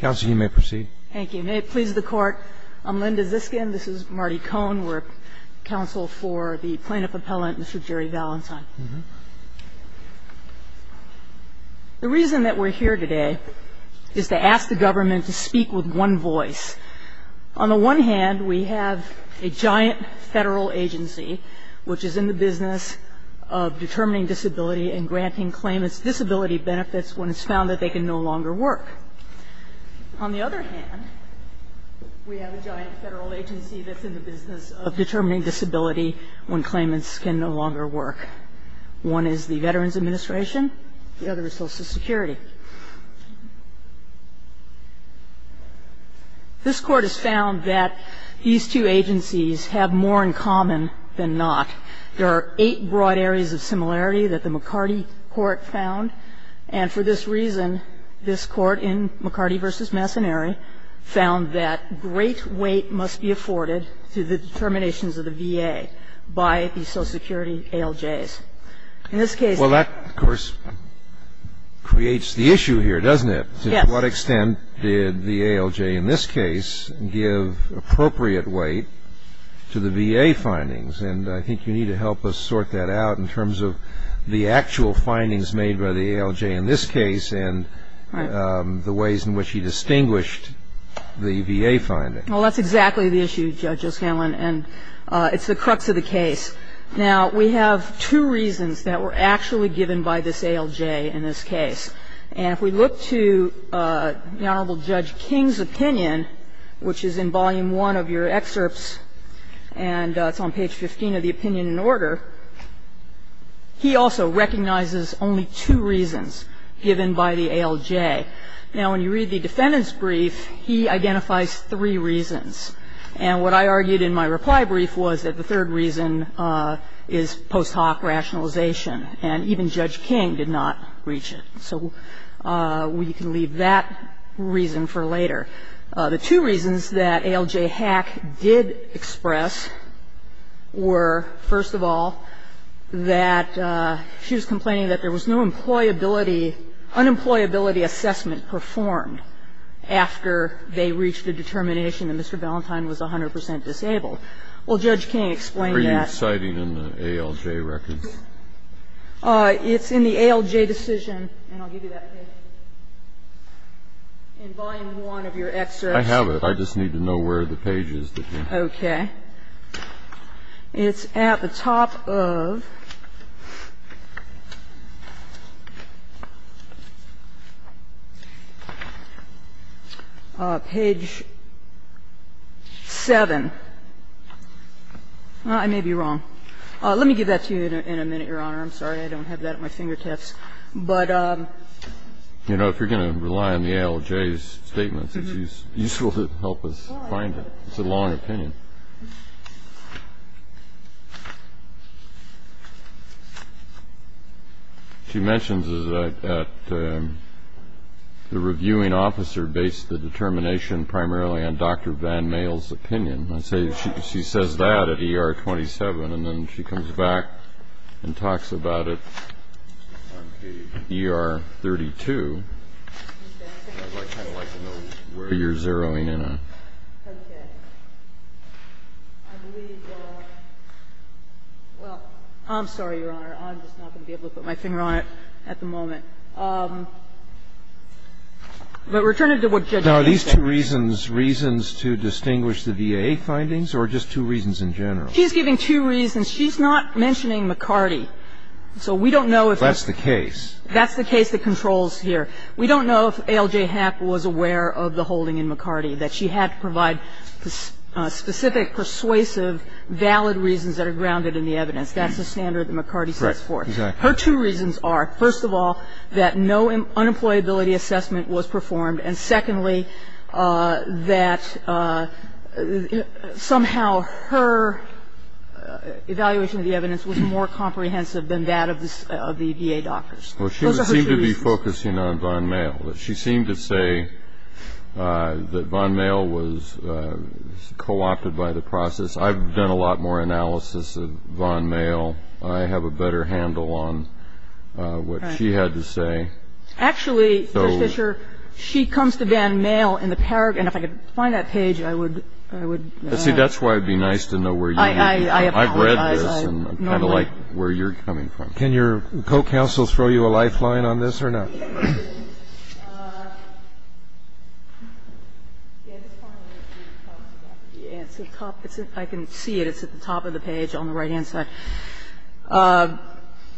The reason that we are here today is to ask the government to speak with one voice. On the one hand, we have a giant federal agency which is in the business of determining disability when claimants can no longer work. On the other hand, we have a giant federal agency that's in the business of determining disability when claimants can no longer work. One is the Veterans Administration, the other is Social Security. This Court has found that these two agencies have more in common than not. There are eight broad areas of similarity that the McCarty Court found. And for this reason, this Court in McCarty v. Messonnieri found that great weight must be afforded to the determinations of the VA by the Social Security ALJs. In this case the ALJs give appropriate weight to the VA findings. And I think you need to help us sort that out in terms of the actual findings made by the ALJ in this case and the ways in which he distinguished the VA findings. Well, that's exactly the issue, Judge O'Scanlan, and it's the crux of the case. Now, we have two reasons that were actually given by this ALJ in this case. And if we look to the Honorable Judge King's opinion, which is in Volume I of your excerpts, and it's on page 15 of the opinion in order, he also recognizes only two reasons given by the ALJ. Now, when you read the defendant's brief, he identifies three reasons. And what I argued in my reply brief was that the third reason is post hoc rationalization, and even Judge King did not reach it. So we can leave that reason for later. The two reasons that ALJ Hack did express were, first of all, that she was complaining that there was no employability unemployability assessment performed after they reached a determination that Mr. Ballantyne was 100 percent disabled. Well, Judge King explained that. Are you citing in the ALJ records? It's in the ALJ decision, and I'll give you that page, in Volume I of your excerpts. I have it. I just need to know where the page is that you're citing. Okay. It's at the top of page 7. I may be wrong. Let me give that to you in a minute, Your Honor. I'm sorry. I don't have that at my fingertips. But ---- You know, if you're going to rely on the ALJ's statements, it's useful to help us find it. It's a long opinion. She mentions that the reviewing officer based the determination primarily on Dr. Van And then she comes back and talks about it on page ER-32, where you're zeroing in on. Okay. I believe the ---- well, I'm sorry, Your Honor. I'm just not going to be able to put my finger on it at the moment. But returning to what Judge King said. Now, are these two reasons reasons to distinguish the VAA findings, or just two reasons in general? She's giving two reasons. She's not mentioning McCarty. So we don't know if ---- That's the case. That's the case that controls here. We don't know if ALJ HAP was aware of the holding in McCarty, that she had to provide specific, persuasive, valid reasons that are grounded in the evidence. That's the standard that McCarty stands for. Correct. Exactly. Her two reasons are, first of all, that no unemployability assessment was performed. And secondly, that somehow her evaluation of the evidence was more comprehensive than that of the VA doctors. Those are her two reasons. Well, she would seem to be focusing on von Maehl. She seemed to say that von Maehl was co-opted by the process. I've done a lot more analysis of von Maehl. I have a better handle on what she had to say. Actually, Judge Fischer, she comes to van Maehl in the paragraph. And if I could find that page, I would, I would ---- See, that's why it would be nice to know where you're coming from. I have read this, and I kind of like where you're coming from. Can your co-counsels throw you a lifeline on this or not? I can see it. It's at the top of the page on the right-hand side.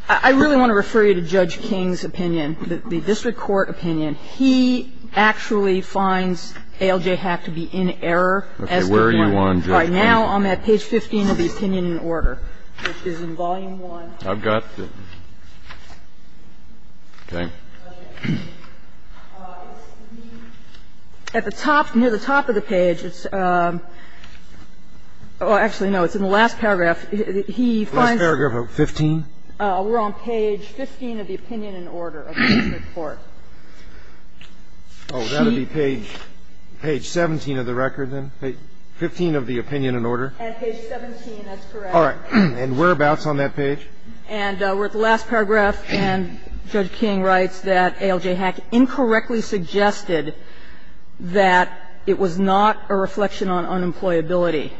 I really want to refer you to Judge King's opinion, the district court opinion. He actually finds ALJ hack to be in error. Okay. Where are you on, Judge King? Right now, I'm at page 15 of the opinion in order, which is in volume 1. I've got the ---- Okay. At the top, near the top of the page, it's ---- well, actually, no. It's in the last paragraph. He finds ---- The last paragraph of 15? We're on page 15 of the opinion in order of the district court. Oh, that would be page 17 of the record then, page 15 of the opinion in order? At page 17, that's correct. All right. And whereabouts on that page? And we're at the last paragraph, and Judge King writes that ALJ hack incorrectly suggested that it was not a reflection on unemployability.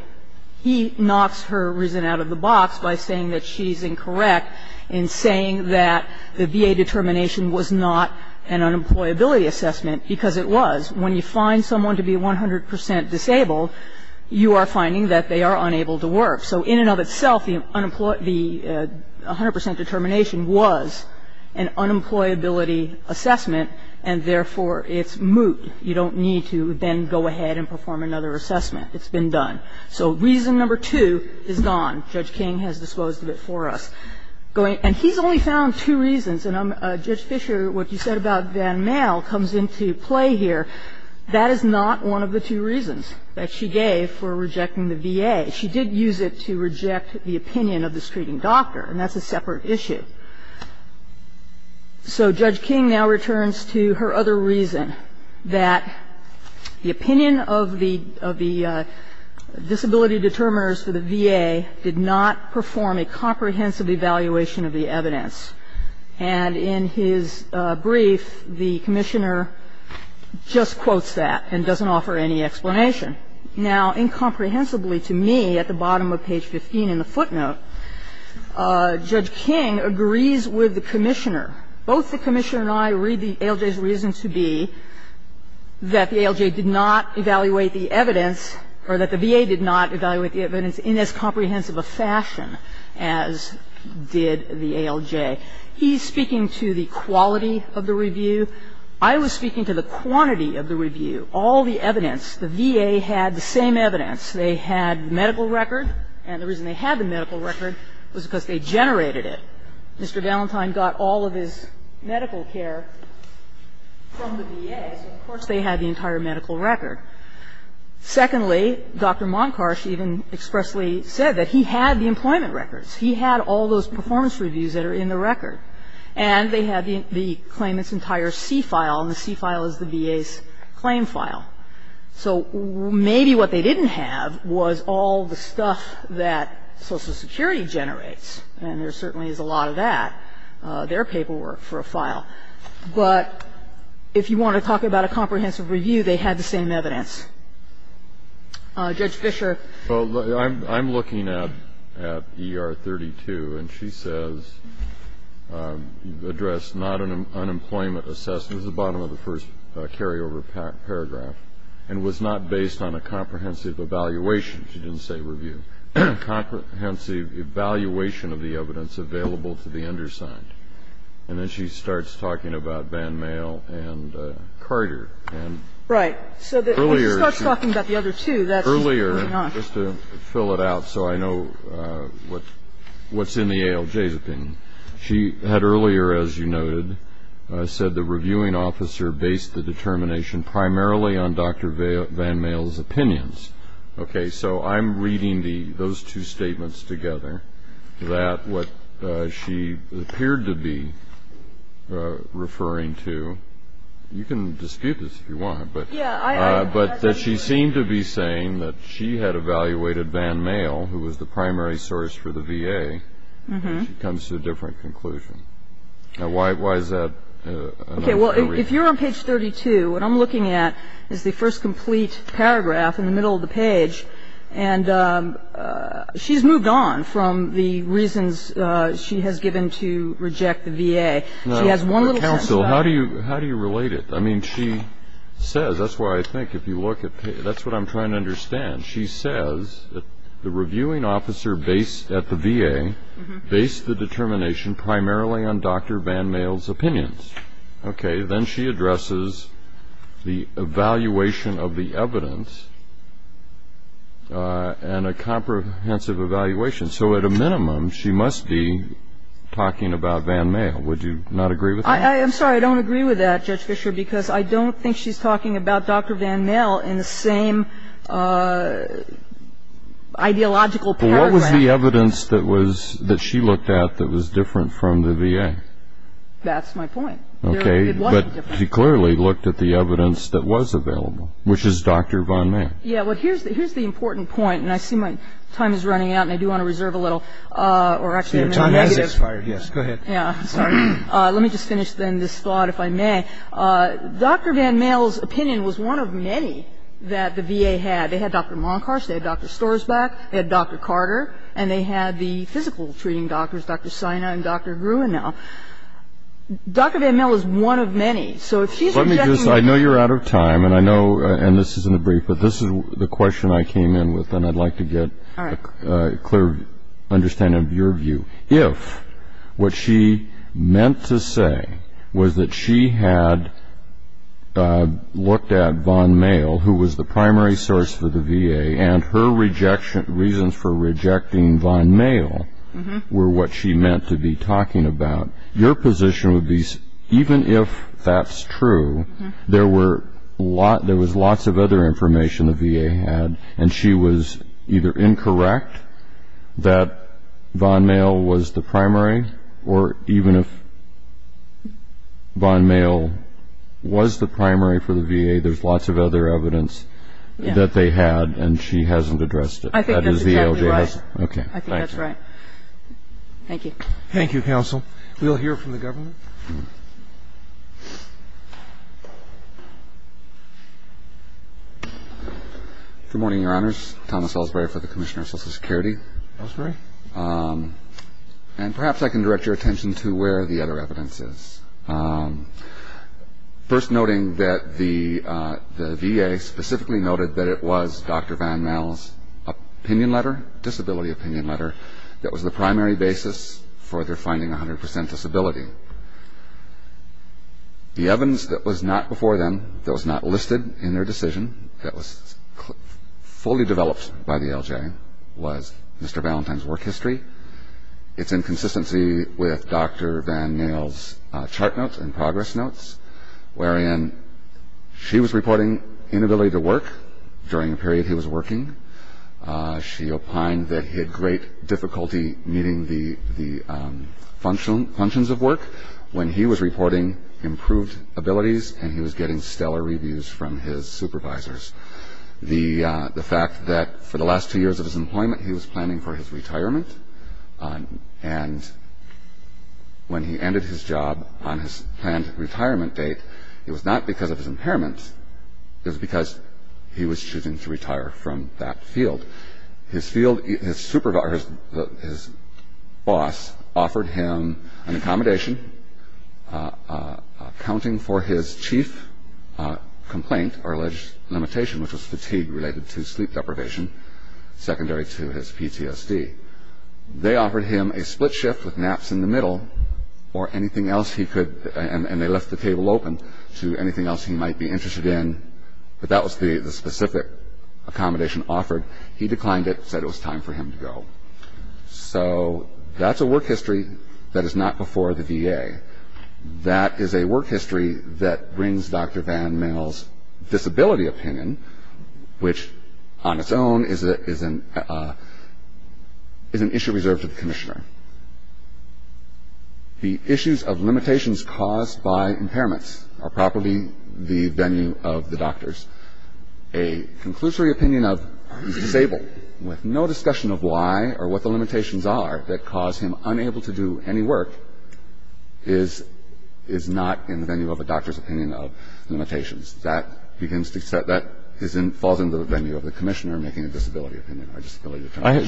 He knocks her reason out of the box by saying that she's incorrect in saying that the VA determination was not an unemployability assessment because it was. When you find someone to be 100% disabled, you are finding that they are unable to work. So in and of itself, the 100% determination was an unemployability assessment, and therefore, it's moot. You don't need to then go ahead and perform another assessment. It's been done. So reason number two is gone. Judge King has disposed of it for us. And he's only found two reasons, and Judge Fisher, what you said about Van Mael comes into play here. That is not one of the two reasons that she gave for rejecting the VA. She did use it to reject the opinion of the screening doctor, and that's a separate issue. Now, in this case, the VA did not perform a comprehensive evaluation of the evidence. And in his brief, the Commissioner just quotes that and doesn't offer any explanation. Now, incomprehensibly to me, at the bottom of page 15 in the footnote, Judge King agrees with the Commissioner. Both the Commissioner and I read the ALJ's reason to be that the ALJ did not evaluate the evidence, or that the VA did not evaluate the evidence in as comprehensive a fashion as did the ALJ. He's speaking to the quality of the review. I was speaking to the quantity of the review. All the evidence, the VA had the same evidence. They had medical record, and the reason they had the medical record was because they generated it. Mr. Valentine got all of his medical care from the VA, so of course they had the entire medical record. Secondly, Dr. Monkosh even expressly said that he had the employment records. He had all those performance reviews that are in the record. And they had the claimant's entire C file, and the C file is the VA's claim file. So maybe what they didn't have was all the stuff that Social Security generates, and there certainly is a lot of that, their paperwork for a file. But if you want to talk about a comprehensive review, they had the same evidence. Judge Fischer? I'm looking at ER 32, and she says, address not an unemployment assessment, the bottom of the first carryover paragraph, and was not based on a comprehensive evaluation. She didn't say review. Comprehensive evaluation of the evidence available to the undersigned. And then she starts talking about VanMale and Carter. Right. Earlier, earlier, just to fill it out so I know what's in the ALJ's opinion. She had earlier, as you noted, said the reviewing officer based the determination primarily on Dr. VanMale's opinions. Okay. So I'm reading those two statements together, that what she appeared to be referring to, you can dispute this if you want, but that she seemed to be saying that she had evaluated VanMale, who was the primary source for the VA, and she comes to a different conclusion. Now, why is that? Okay. Well, if you're on page 32, what I'm looking at is the first complete paragraph in the middle of the page, and she's moved on from the reasons she has given to reject the VA. She has one little thing. Counsel, how do you relate it? I mean, she says, that's why I think if you look at, that's what I'm trying to understand. She says that the reviewing officer based at the VA based the determination primarily on Dr. VanMale's opinions. Okay. Then she addresses the evaluation of the evidence and a comprehensive evaluation. So at a minimum, she must be talking about VanMale. Would you not agree with that? I'm sorry. I don't agree with that, Judge Fischer, because I don't think she's talking about Dr. VanMale in the same ideological paragraph. What was the evidence that she looked at that was different from the VA? That's my point. Okay, but she clearly looked at the evidence that was available, which is Dr. VanMale. Yeah, well, here's the important point, and I see my time is running out, and I do want to reserve a little, or actually a minute. Your time has expired. Yes, go ahead. Yeah, sorry. Let me just finish, then, this thought, if I may. Dr. VanMale's opinion was one of many that the VA had. They had Dr. Monkhorst, they had Dr. Storsbak, they had Dr. Carter, and they had the physical treating doctors, Dr. Sina and Dr. Gruenow. Dr. VanMale is one of many. So if she's objecting to- Let me just, I know you're out of time, and I know, and this isn't a brief, but this is the question I came in with, and I'd like to get a clear understanding of your view. If what she meant to say was that she had looked at VanMale, who was the primary source for the VA, and her reasons for rejecting VanMale were what she meant to be talking about, your position would be, even if that's true, there was lots of other information the VA had, and she was either incorrect, that VanMale was the primary, or even if VanMale was the primary for the VA, there's lots of other evidence that they had, and she hasn't addressed it. I think that's exactly right. Okay, thank you. I think that's right. Thank you. Thank you, Counsel. We'll hear from the Governor. Good morning, Your Honors. Thomas Elsberry for the Commissioner of Social Security. Elsberry. And perhaps I can direct your attention to where the other evidence is. First noting that the VA specifically noted that it was Dr. VanMale's opinion letter, disability opinion letter, that was the primary basis for their finding 100% disability. The evidence that was not before them, that was not listed in their decision, that was fully developed by the LJ, was Mr. Valentine's work history. It's in consistency with Dr. VanMale's chart notes and progress notes, wherein she was reporting inability to work during a period he was working. She opined that he had great difficulty meeting the functions of work when he was reporting improved abilities and he was getting stellar reviews from his supervisors. The fact that for the last two years of his employment he was planning for his retirement and when he ended his job on his planned retirement date, it was not because of his impairments, it was because he was choosing to retire from that field. His field, his supervisor, his boss offered him an accommodation, accounting for his chief complaint or alleged limitation, which was fatigue related to sleep deprivation, secondary to his PTSD. They offered him a split shift with naps in the middle or anything else he could, and they left the table open to anything else he might be interested in, but that was the specific accommodation offered. He declined it, said it was time for him to go. So that's a work history that is not before the VA. That is a work history that brings Dr. VanMale's disability opinion, which on its own is an issue reserved to the commissioner. The issues of limitations caused by impairments are properly the venue of the doctors. A conclusory opinion of he's disabled with no discussion of why or what the limitations are that cause him unable to do any work is not in the venue of a doctor's opinion of limitations. That falls into the venue of the commissioner making a disability opinion.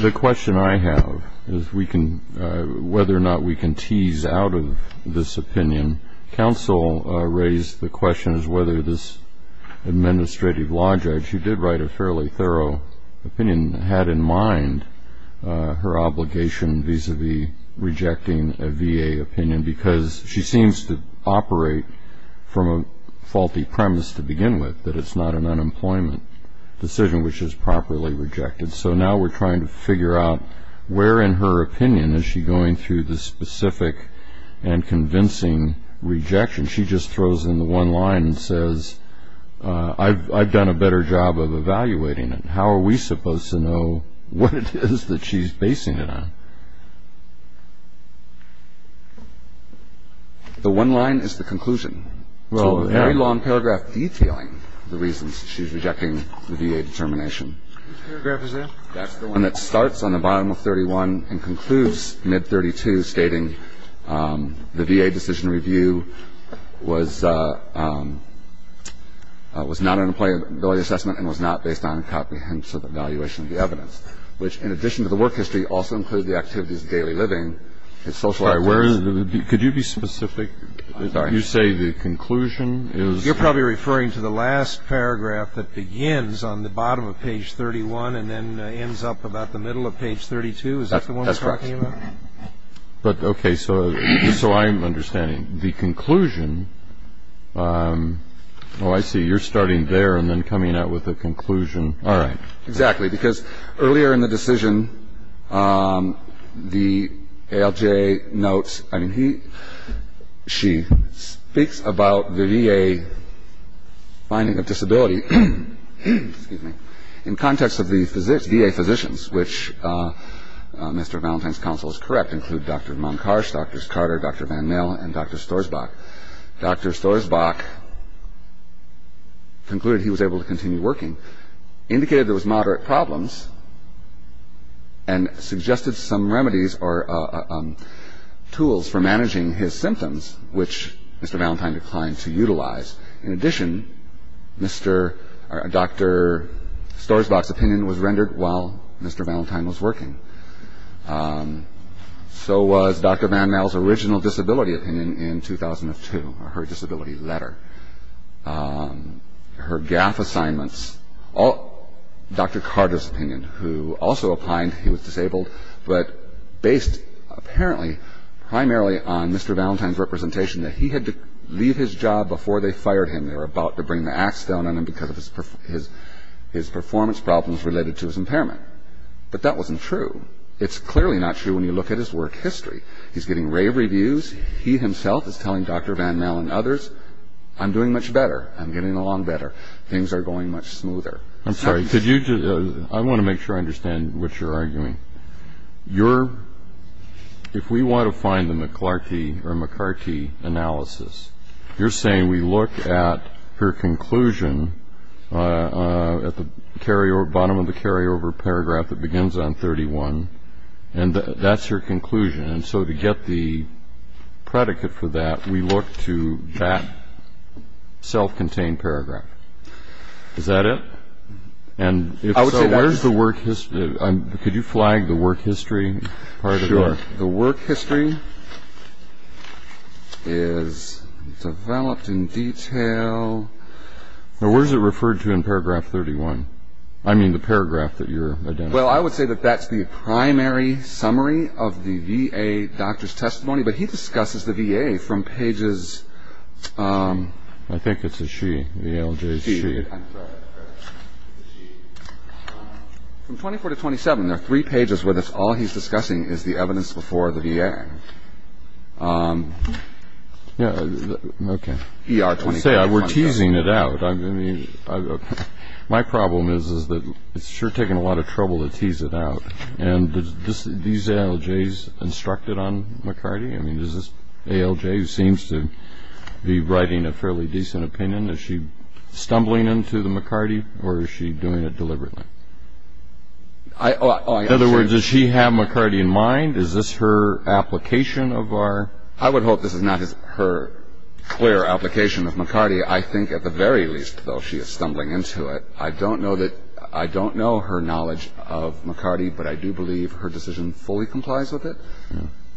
The question I have is whether or not we can tease out of this opinion. Counsel raised the question as whether this administrative law judge, who did write a fairly thorough opinion, had in mind her obligation vis-a-vis rejecting a VA opinion because she seems to operate from a faulty premise to begin with, that it's not an unemployment decision, which is properly rejected. So now we're trying to figure out where in her opinion is she going through the specific and convincing rejection. She just throws in the one line and says, I've done a better job of evaluating it. How are we supposed to know what it is that she's basing it on? The one line is the conclusion. It's a very long paragraph detailing the reasons she's rejecting the VA determination. Which paragraph is that? That's the one that starts on the bottom of 31 and concludes mid-32, stating the VA decision review was not an employability assessment and was not based on a comprehensive evaluation of the evidence. Which, in addition to the work history, also includes the activities of daily living. Could you be specific? You say the conclusion is? You're probably referring to the last paragraph that begins on the bottom of page 31 and then ends up about the middle of page 32. Is that the one you're talking about? That's correct. But, okay, so I'm understanding. The conclusion, oh, I see. You're starting there and then coming out with a conclusion. All right. Exactly, because earlier in the decision, the ALJ notes, I mean, she speaks about the VA finding of disability, excuse me, in context of the VA physicians, which Mr. Valentine's counsel is correct, include Dr. Monkosh, Drs. Carter, Dr. Van Mill, and Dr. Storsbach. Dr. Storsbach concluded he was able to continue working, indicated there was moderate problems, and suggested some remedies or tools for managing his symptoms, which Mr. Valentine declined to utilize. In addition, Dr. Storsbach's opinion was rendered while Mr. Valentine was working. So was Dr. Van Mill's original disability opinion in 2002, her disability letter. Her GAF assignments. Dr. Carter's opinion, who also opined he was disabled, but based apparently primarily on Mr. Valentine's representation that he had to leave his job before they fired him. They were about to bring the axe down on him because of his performance problems related to his impairment. But that wasn't true. It's clearly not true when you look at his work history. He's getting rave reviews. He himself is telling Dr. Van Mill and others I'm doing much better. I'm getting along better. Things are going much smoother. I'm sorry. I want to make sure I understand what you're arguing. If we want to find the McClarty or McCarty analysis, you're saying we look at her conclusion at the bottom of the carryover paragraph that begins on 31, and that's her conclusion. And so to get the predicate for that, we look to that self-contained paragraph. Is that it? And if so, where's the work history? Could you flag the work history part of that? Sure. The work history is developed in detail. Now, where is it referred to in paragraph 31? I mean the paragraph that you're identifying. Well, I would say that that's the primary summary of the VA doctor's testimony, but he discusses the VA from pages of 24 to 27. There are three pages where all he's discussing is the evidence before the VA. Okay. We're teasing it out. My problem is that it's sure taking a lot of trouble to tease it out. And are these ALJs instructed on McCarty? I mean, is this ALJ who seems to be writing a fairly decent opinion? Is she stumbling into the McCarty, or is she doing it deliberately? In other words, does she have McCarty in mind? Is this her application of our ---- I don't know her knowledge of McCarty, but I do believe her decision fully complies with it,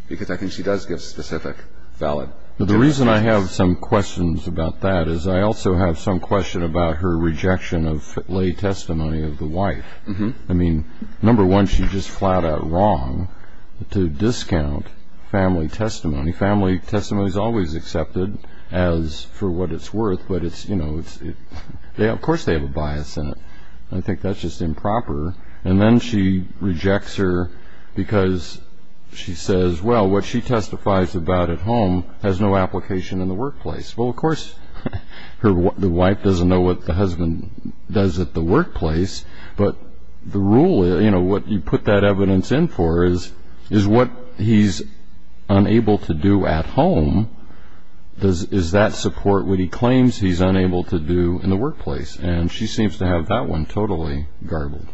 because I think she does give specific, valid ---- The reason I have some questions about that is I also have some question about her rejection of lay testimony of the wife. I mean, number one, she's just flat out wrong to discount family testimony. Family testimony is always accepted as for what it's worth, but of course they have a bias in it. I think that's just improper. And then she rejects her because she says, well, what she testifies about at home has no application in the workplace. Well, of course the wife doesn't know what the husband does at the workplace, but the rule is what you put that evidence in for is what he's unable to do at home. Does that support what he claims he's unable to do in the workplace? And she seems to have that one totally garbled.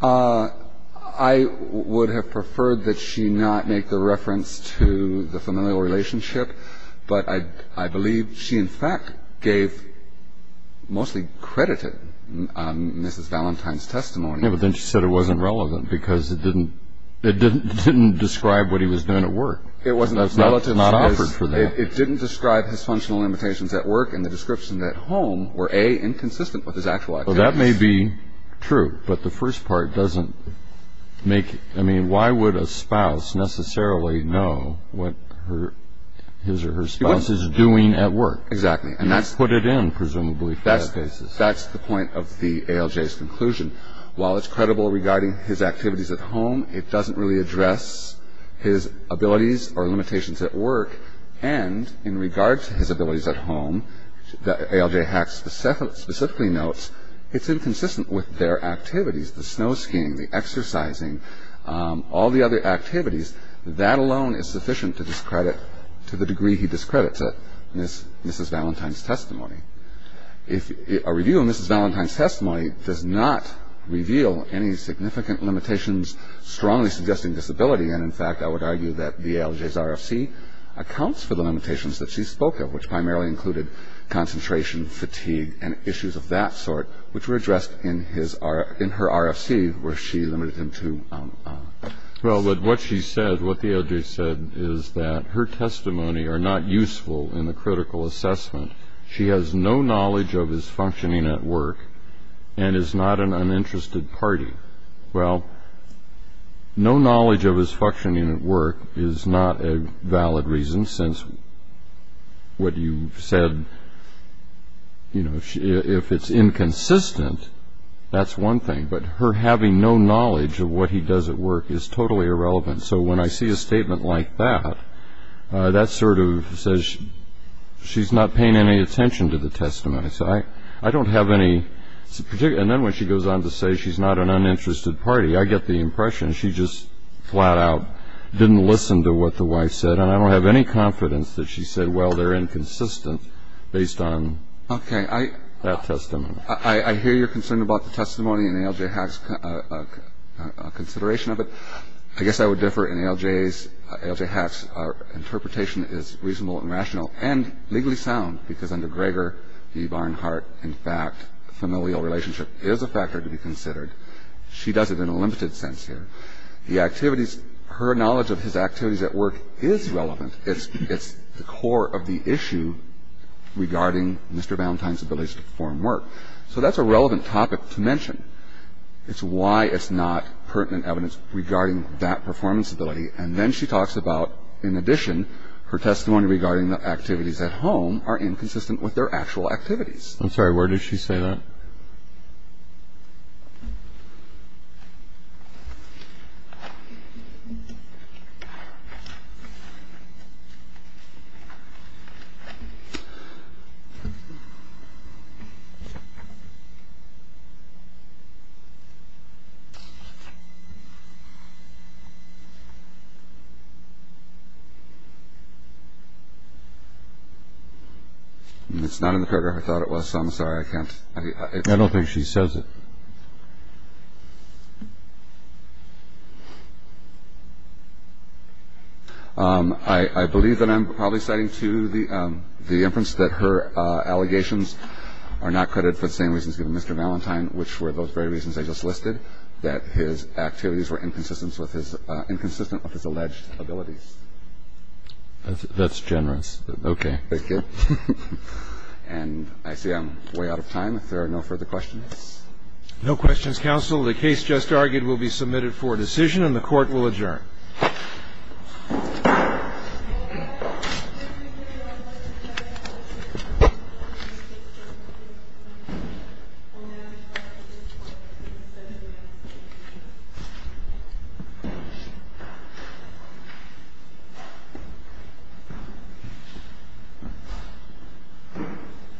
I would have preferred that she not make the reference to the familial relationship, but I believe she in fact gave mostly credited Mrs. Valentine's testimony. Yeah, but then she said it wasn't relevant because it didn't describe what he was doing at work. It didn't describe his functional limitations at work and the description at home were, A, inconsistent with his actual activities. Well, that may be true, but the first part doesn't make it. I mean, why would a spouse necessarily know what his or her spouse is doing at work? Exactly, and that's the point of the ALJ's conclusion. While it's credible regarding his activities at home, it doesn't really address his abilities or limitations at work, and in regard to his abilities at home, the ALJ specifically notes, it's inconsistent with their activities, the snow skiing, the exercising, all the other activities. That alone is sufficient to discredit, to the degree he discredits it, Mrs. Valentine's testimony. A review of Mrs. Valentine's testimony does not reveal any significant limitations strongly suggesting disability, and in fact I would argue that the ALJ's RFC accounts for the limitations that she spoke of, which primarily included concentration, fatigue, and issues of that sort, which were addressed in her RFC, where she limited them to... Well, but what she said, what the ALJ said, is that her testimony are not useful in the critical assessment. She has no knowledge of his functioning at work, and is not an uninterested party. Well, no knowledge of his functioning at work is not a valid reason, since what you said, you know, if it's inconsistent, that's one thing, but her having no knowledge of what he does at work is totally irrelevant. So when I see a statement like that, that sort of says she's not paying any attention to the testimony. So I don't have any... And then when she goes on to say she's not an uninterested party, I get the impression she just flat out didn't listen to what the wife said, and I don't have any confidence that she said, well, they're inconsistent based on that testimony. Okay. I hear you're concerned about the testimony and the ALJ has a consideration of it. I guess I would differ in ALJ's... ALJ has an interpretation that is reasonable and rational and legally sound, because under Gregor v. Barnhart, in fact, familial relationship is a factor to be considered. She does it in a limited sense here. The activities... Her knowledge of his activities at work is relevant. It's the core of the issue regarding Mr. Valentine's ability to perform work. So that's a relevant topic to mention. It's why it's not pertinent evidence regarding that performance ability. And then she talks about, in addition, her testimony regarding the activities at home are inconsistent with their actual activities. I'm sorry. Where did she say that? It's not in the paragraph I thought it was, so I'm sorry. I can't... I don't think she says it. I believe that I'm probably citing to the inference that her allegations are not credited for the same reasons as Mr. Valentine, which were those very reasons I just listed, that his activities were inconsistent with his alleged abilities. That's generous. Okay. Thank you. And I see I'm way out of time if there are no further questions. No questions, counsel. The case just argued will be submitted for decision, and the Court will adjourn. Thank you.